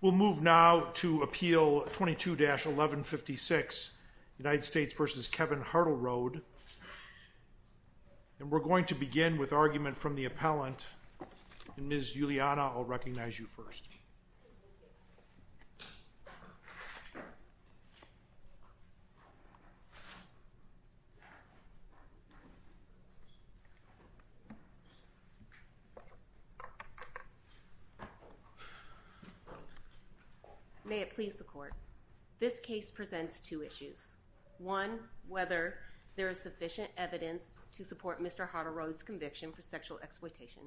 We'll move now to Appeal 22-1156, United States v. Kevin Hartleroad. And we're going to begin with argument from the appellant. Ms. Juliana, I'll recognize you first. May it please the Court. This case presents two issues. One, whether there is sufficient evidence to support Mr. Hartleroad's conviction for sexual exploitation.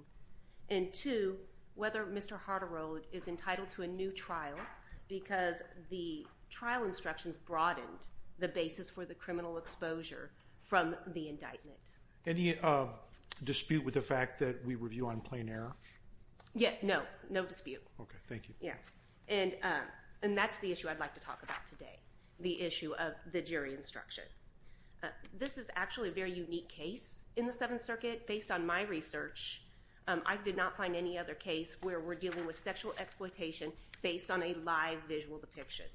And two, whether Mr. Hartleroad is entitled to a new trial because the trial instructions broadened the basis for the criminal exposure from the indictment. Any dispute with the fact that we review on plain error? No, no dispute. Okay, thank you. And that's the issue I'd like to talk about today, the issue of the jury instruction. This is actually a very unique case in the Seventh Circuit. Based on my research, I did not find any other case where we're dealing with sexual exploitation based on a live visual depiction.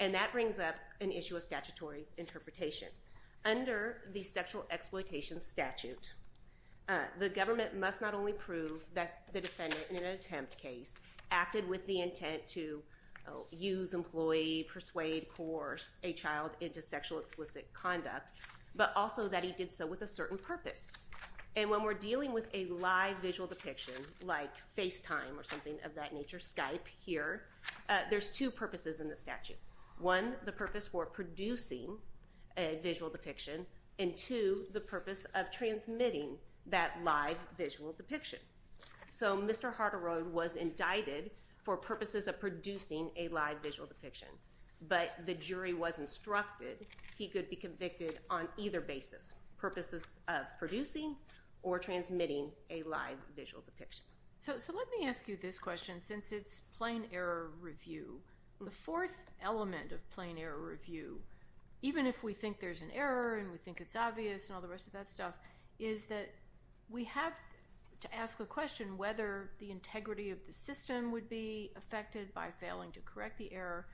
And that brings up an issue of statutory interpretation. Under the sexual exploitation statute, the government must not only prove that the defendant in an attempt case acted with the intent to use, employ, persuade, coerce a child into sexual explicit conduct, but also that he did so with a certain purpose. And when we're dealing with a live visual depiction, like FaceTime or something of that nature, Skype here, there's two purposes in the statute. One, the purpose for producing a visual depiction, and two, the purpose of transmitting that live visual depiction. So Mr. Hartleroad was indicted for purposes of producing a live visual depiction. But the jury was instructed he could be convicted on either basis, purposes of producing or transmitting a live visual depiction. So let me ask you this question, since it's plain error review. The fourth element of plain error review, even if we think there's an error and we think it's obvious and all the rest of that stuff, is that we have to ask the question whether the integrity of the system would be affected by failing to correct the error.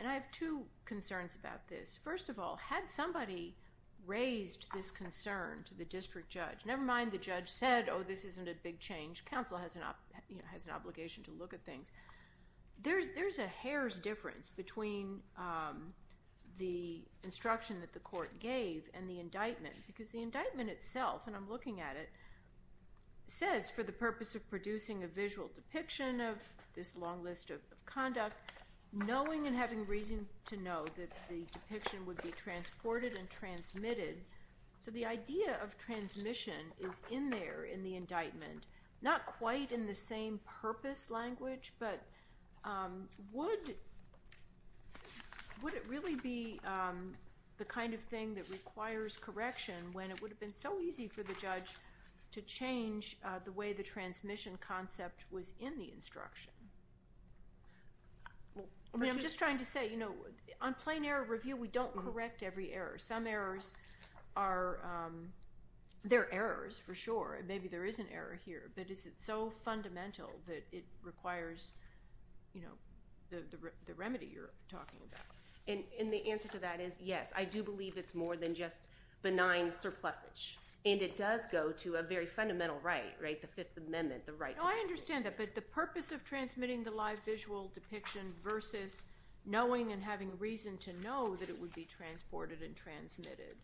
And I have two concerns about this. First of all, had somebody raised this concern to the district judge, never mind the judge said, oh, this isn't a big change. Counsel has an obligation to look at things. There's a hair's difference between the instruction that the court gave and the indictment, because the indictment itself, and I'm looking at it, says, for the purpose of producing a visual depiction of this long list of conduct, knowing and having reason to know that the depiction would be transported and transmitted. So the idea of transmission is in there in the indictment. Not quite in the same purpose language, but would it really be the kind of thing that requires correction when it would have been so easy for the judge to change the way the transmission concept was in the instruction? I'm just trying to say, on plain error review, we don't correct every error. Some errors are—they're errors, for sure. Maybe there is an error here, but is it so fundamental that it requires the remedy you're talking about? And the answer to that is yes. I do believe it's more than just benign surplusage, and it does go to a very fundamental right, the Fifth Amendment, the right to— I understand that, but the purpose of transmitting the live visual depiction versus knowing and having reason to know that it would be transported and transmitted,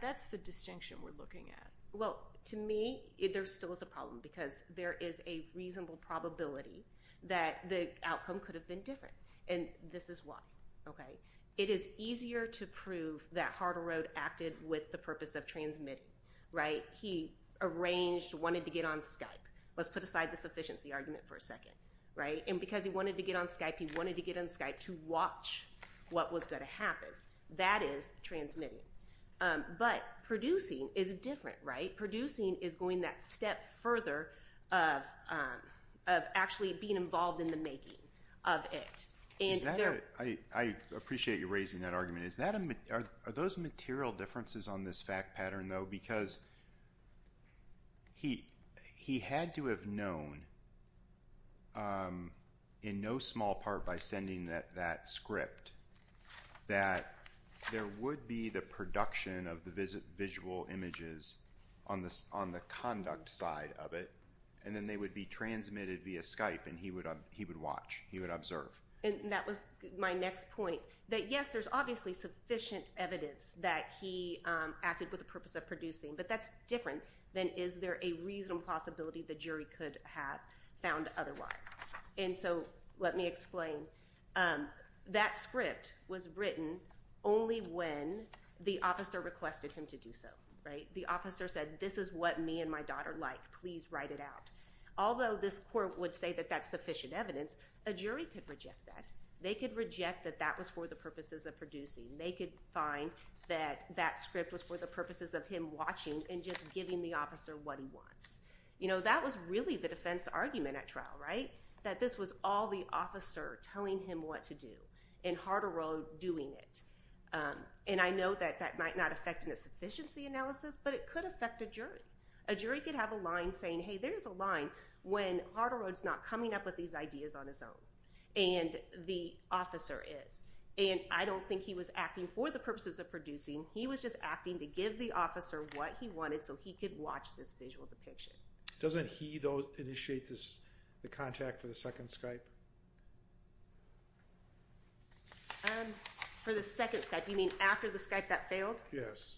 that's the distinction we're looking at. Well, to me, there still is a problem, because there is a reasonable probability that the outcome could have been different, and this is why. It is easier to prove that Harderode acted with the purpose of transmitting. He arranged, wanted to get on Skype. Let's put aside the sufficiency argument for a second. And because he wanted to get on Skype, he wanted to get on Skype to watch what was going to happen. That is transmitting. But producing is different. Producing is going that step further of actually being involved in the making of it. I appreciate you raising that argument. Are those material differences on this fact pattern, though? Because he had to have known in no small part by sending that script that there would be the production of the visual images on the conduct side of it, and then they would be transmitted via Skype, and he would watch, he would observe. And that was my next point, that, yes, there's obviously sufficient evidence that he acted with the purpose of producing, but that's different than is there a reasonable possibility the jury could have found otherwise. And so let me explain. That script was written only when the officer requested him to do so, right? The officer said, this is what me and my daughter like. Please write it out. Although this court would say that that's sufficient evidence, a jury could reject that. They could reject that that was for the purposes of producing. They could find that that script was for the purposes of him watching and just giving the officer what he wants. You know, that was really the defense argument at trial, right? That this was all the officer telling him what to do and Harderode doing it. And I know that that might not affect a sufficiency analysis, but it could affect a jury. A jury could have a line saying, hey, there's a line when Harderode's not coming up with these ideas on his own, and the officer is. And I don't think he was acting for the purposes of producing. He was just acting to give the officer what he wanted so he could watch this visual depiction. Doesn't he, though, initiate the contact for the second Skype? For the second Skype? You mean after the Skype that failed? Yes.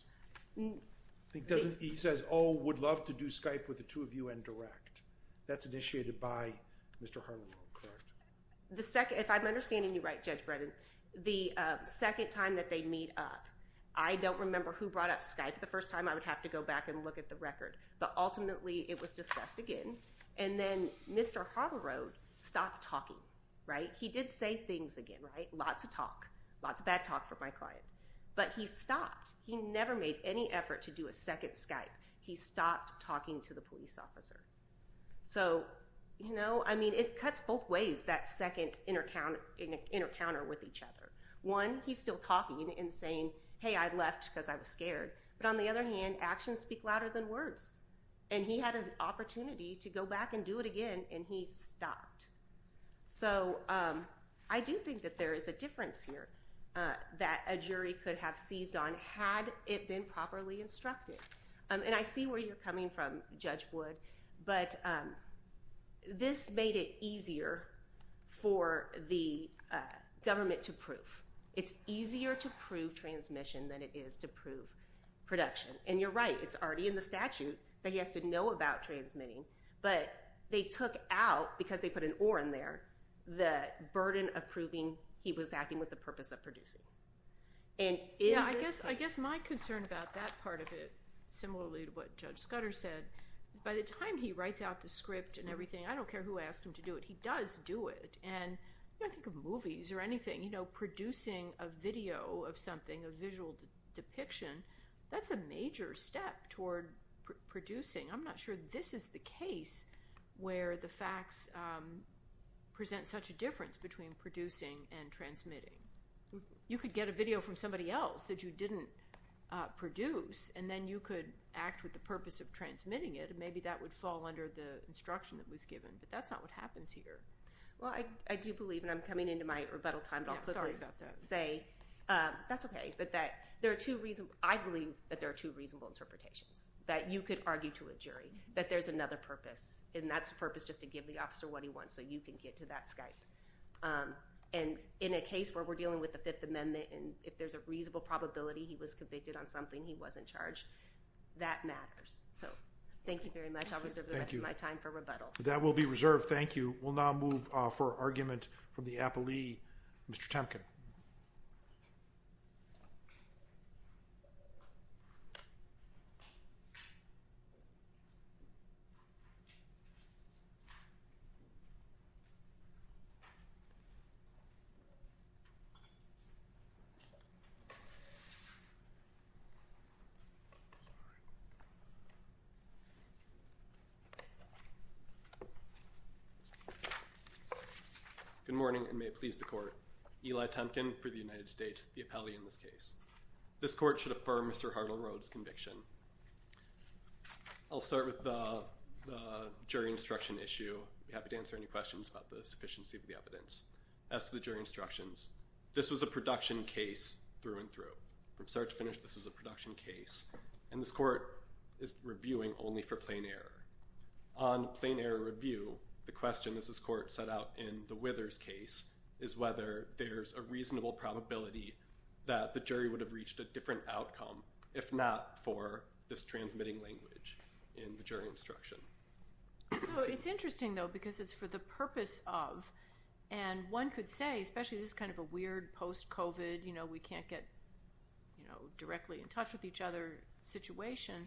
He says, oh, would love to do Skype with the two of you and direct. That's initiated by Mr. Harderode, correct? If I'm understanding you right, Judge Bredin, the second time that they meet up, I don't remember who brought up Skype the first time. I would have to go back and look at the record. But ultimately, it was discussed again. And then Mr. Harderode stopped talking, right? He did say things again, right? Lots of talk, lots of bad talk from my client. But he stopped. He never made any effort to do a second Skype. He stopped talking to the police officer. So, you know, I mean, it cuts both ways, that second encounter with each other. One, he's still talking and saying, hey, I left because I was scared. But on the other hand, actions speak louder than words. And he had an opportunity to go back and do it again, and he stopped. So I do think that there is a difference here that a jury could have seized on had it been properly instructed. And I see where you're coming from, Judge Wood. But this made it easier for the government to prove. It's easier to prove transmission than it is to prove production. And you're right, it's already in the statute that he has to know about transmitting. But they took out, because they put an or in there, the burden of proving he was acting with the purpose of producing. Yeah, I guess my concern about that part of it, similarly to what Judge Scudder said, is by the time he writes out the script and everything, I don't care who asks him to do it, he does do it. And I think of movies or anything, you know, producing a video of something, a visual depiction, that's a major step toward producing. I'm not sure this is the case where the facts present such a difference between producing and transmitting. You could get a video from somebody else that you didn't produce, and then you could act with the purpose of transmitting it, and maybe that would fall under the instruction that was given. But that's not what happens here. Well, I do believe, and I'm coming into my rebuttal time, but I'll quickly say that's okay. I believe that there are two reasonable interpretations. That you could argue to a jury that there's another purpose, and that's the purpose just to give the officer what he wants, so you can get to that Skype. And in a case where we're dealing with the Fifth Amendment, and if there's a reasonable probability he was convicted on something, he wasn't charged, that matters. So thank you very much. I'll reserve the rest of my time for rebuttal. That will be reserved. Thank you. We'll now move for argument from the appellee, Mr. Temkin. Good morning, and may it please the Court. Eli Temkin for the United States, the appellee in this case. This Court should affirm Mr. Hartle-Rhodes' conviction. I'll start with the jury instruction issue. I'd be happy to answer any questions about the sufficiency of the evidence. As to the jury instructions, this was a production case through and through. From start to finish, this was a production case. And this Court is reviewing only for plain error. On plain error review, the question, as this Court set out in the Withers case, is whether there's a reasonable probability that the jury would have reached a different outcome, if not for this transmitting language in the jury instruction. So it's interesting, though, because it's for the purpose of, and one could say, especially this is kind of a weird post-COVID, you know, we can't get directly in touch with each other situation.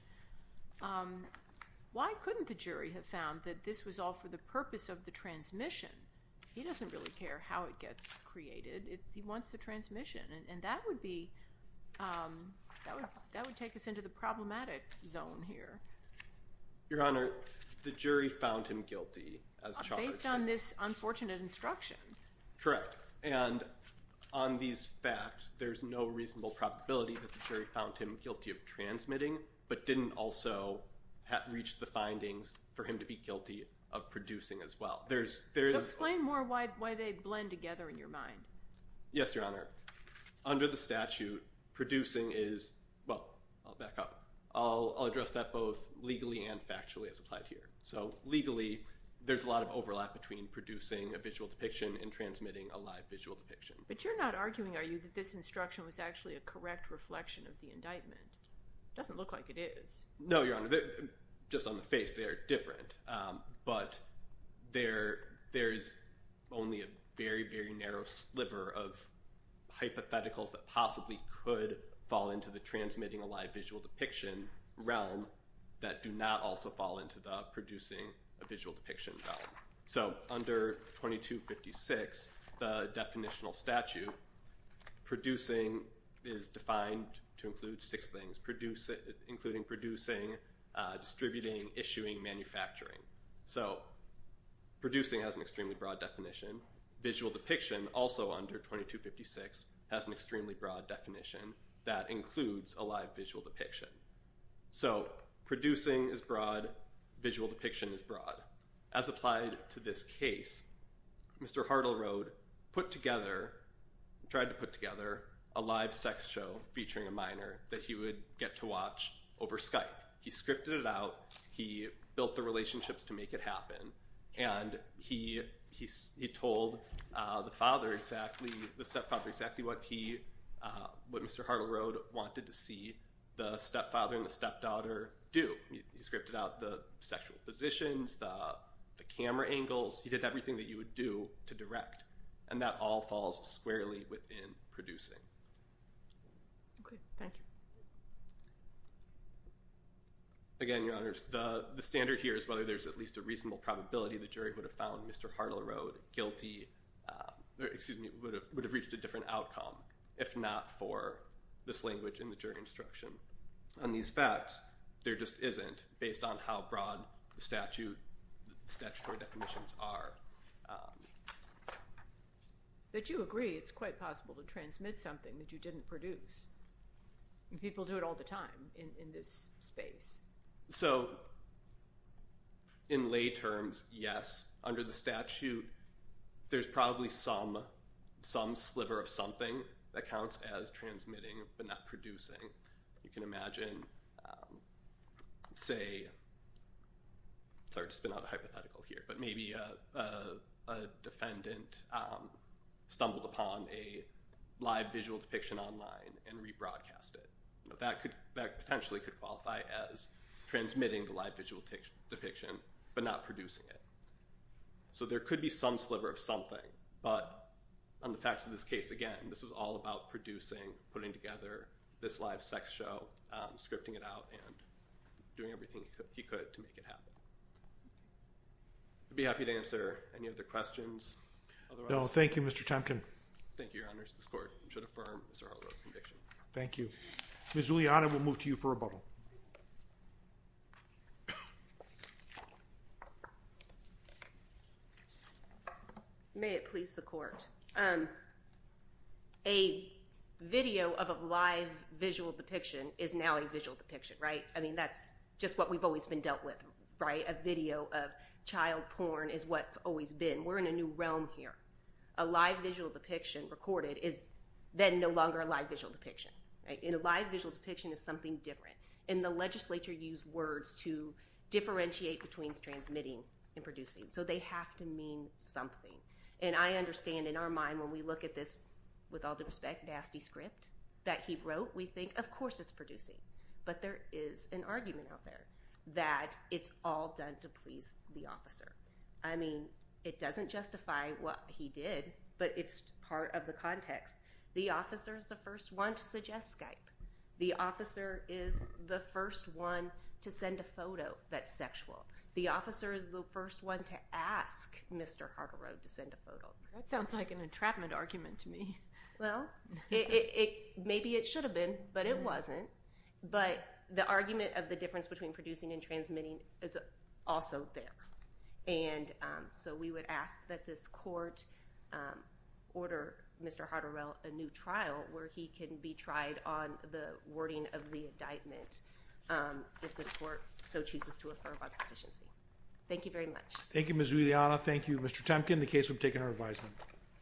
Why couldn't the jury have found that this was all for the purpose of the transmission? He doesn't really care how it gets created. He wants the transmission. And that would be, that would take us into the problematic zone here. Your Honor, the jury found him guilty as charged. Based on this unfortunate instruction. Correct. And on these facts, there's no reasonable probability that the jury found him guilty of transmitting, but didn't also reach the findings for him to be guilty of producing as well. Explain more why they blend together in your mind. Yes, Your Honor. Under the statute, producing is, well, I'll back up. I'll address that both legally and factually as applied here. So legally, there's a lot of overlap between producing a visual depiction and transmitting a live visual depiction. But you're not arguing, are you, that this instruction was actually a correct reflection of the indictment? It doesn't look like it is. No, Your Honor. Just on the face, they are different. But there's only a very, very narrow sliver of hypotheticals that possibly could fall into the transmitting a live visual depiction realm that do not also fall into the producing a visual depiction realm. So under 2256, the definitional statute, producing is defined to include six things, including producing, distributing, issuing, manufacturing. So producing has an extremely broad definition. Visual depiction, also under 2256, has an extremely broad definition that includes a live visual depiction. So producing is broad. Visual depiction is broad. As applied to this case, Mr. Hartle-Rode put together, tried to put together, a live sex show featuring a minor that he would get to watch over Skype. He scripted it out. He built the relationships to make it happen. And he told the stepfather exactly what Mr. Hartle-Rode wanted to see the stepfather and the stepdaughter do. He scripted out the sexual positions, the camera angles. He did everything that you would do to direct. And that all falls squarely within producing. Okay, thank you. Again, Your Honors, the standard here is whether there's at least a reasonable probability the jury would have found Mr. Hartle-Rode guilty, or excuse me, would have reached a different outcome if not for this language in the jury instruction. On these facts, there just isn't, based on how broad the statutory definitions are. But you agree it's quite possible to transmit something that you didn't produce. People do it all the time in this space. So in lay terms, yes. Under the statute, there's probably some sliver of something that counts as transmitting but not producing. You can imagine, say, sorry to spin out a hypothetical here, but maybe a defendant stumbled upon a live visual depiction online and rebroadcast it. That potentially could qualify as transmitting the live visual depiction but not producing it. So there could be some sliver of something. But on the facts of this case, again, this was all about producing, putting together this live sex show, scripting it out, and doing everything he could to make it happen. I'd be happy to answer any other questions. No, thank you, Mr. Temkin. Thank you, Your Honors. This court should affirm Mr. Hartle-Rode's conviction. Thank you. Ms. Giuliano, we'll move to you for rebuttal. May it please the court. A video of a live visual depiction is now a visual depiction, right? I mean, that's just what we've always been dealt with, right? A video of child porn is what's always been. We're in a new realm here. A live visual depiction recorded is then no longer a live visual depiction, right? And a live visual depiction is something different. And the legislature used words to differentiate between transmitting and producing. So they have to mean something. And I understand in our mind when we look at this, with all due respect, nasty script that he wrote, we think, of course it's producing. But there is an argument out there that it's all done to please the officer. I mean, it doesn't justify what he did, but it's part of the context. The officer is the first one to suggest Skype. The officer is the first one to send a photo that's sexual. The officer is the first one to ask Mr. Hartle-Rode to send a photo. That sounds like an entrapment argument to me. Well, maybe it should have been, but it wasn't. But the argument of the difference between producing and transmitting is also there. And so we would ask that this court order Mr. Hartle-Rode a new trial where he can be tried on the wording of the indictment if this court so chooses to affirm on sufficiency. Thank you very much. Thank you, Ms. Juliana. Thank you, Mr. Temkin. The case will be taken under advisement.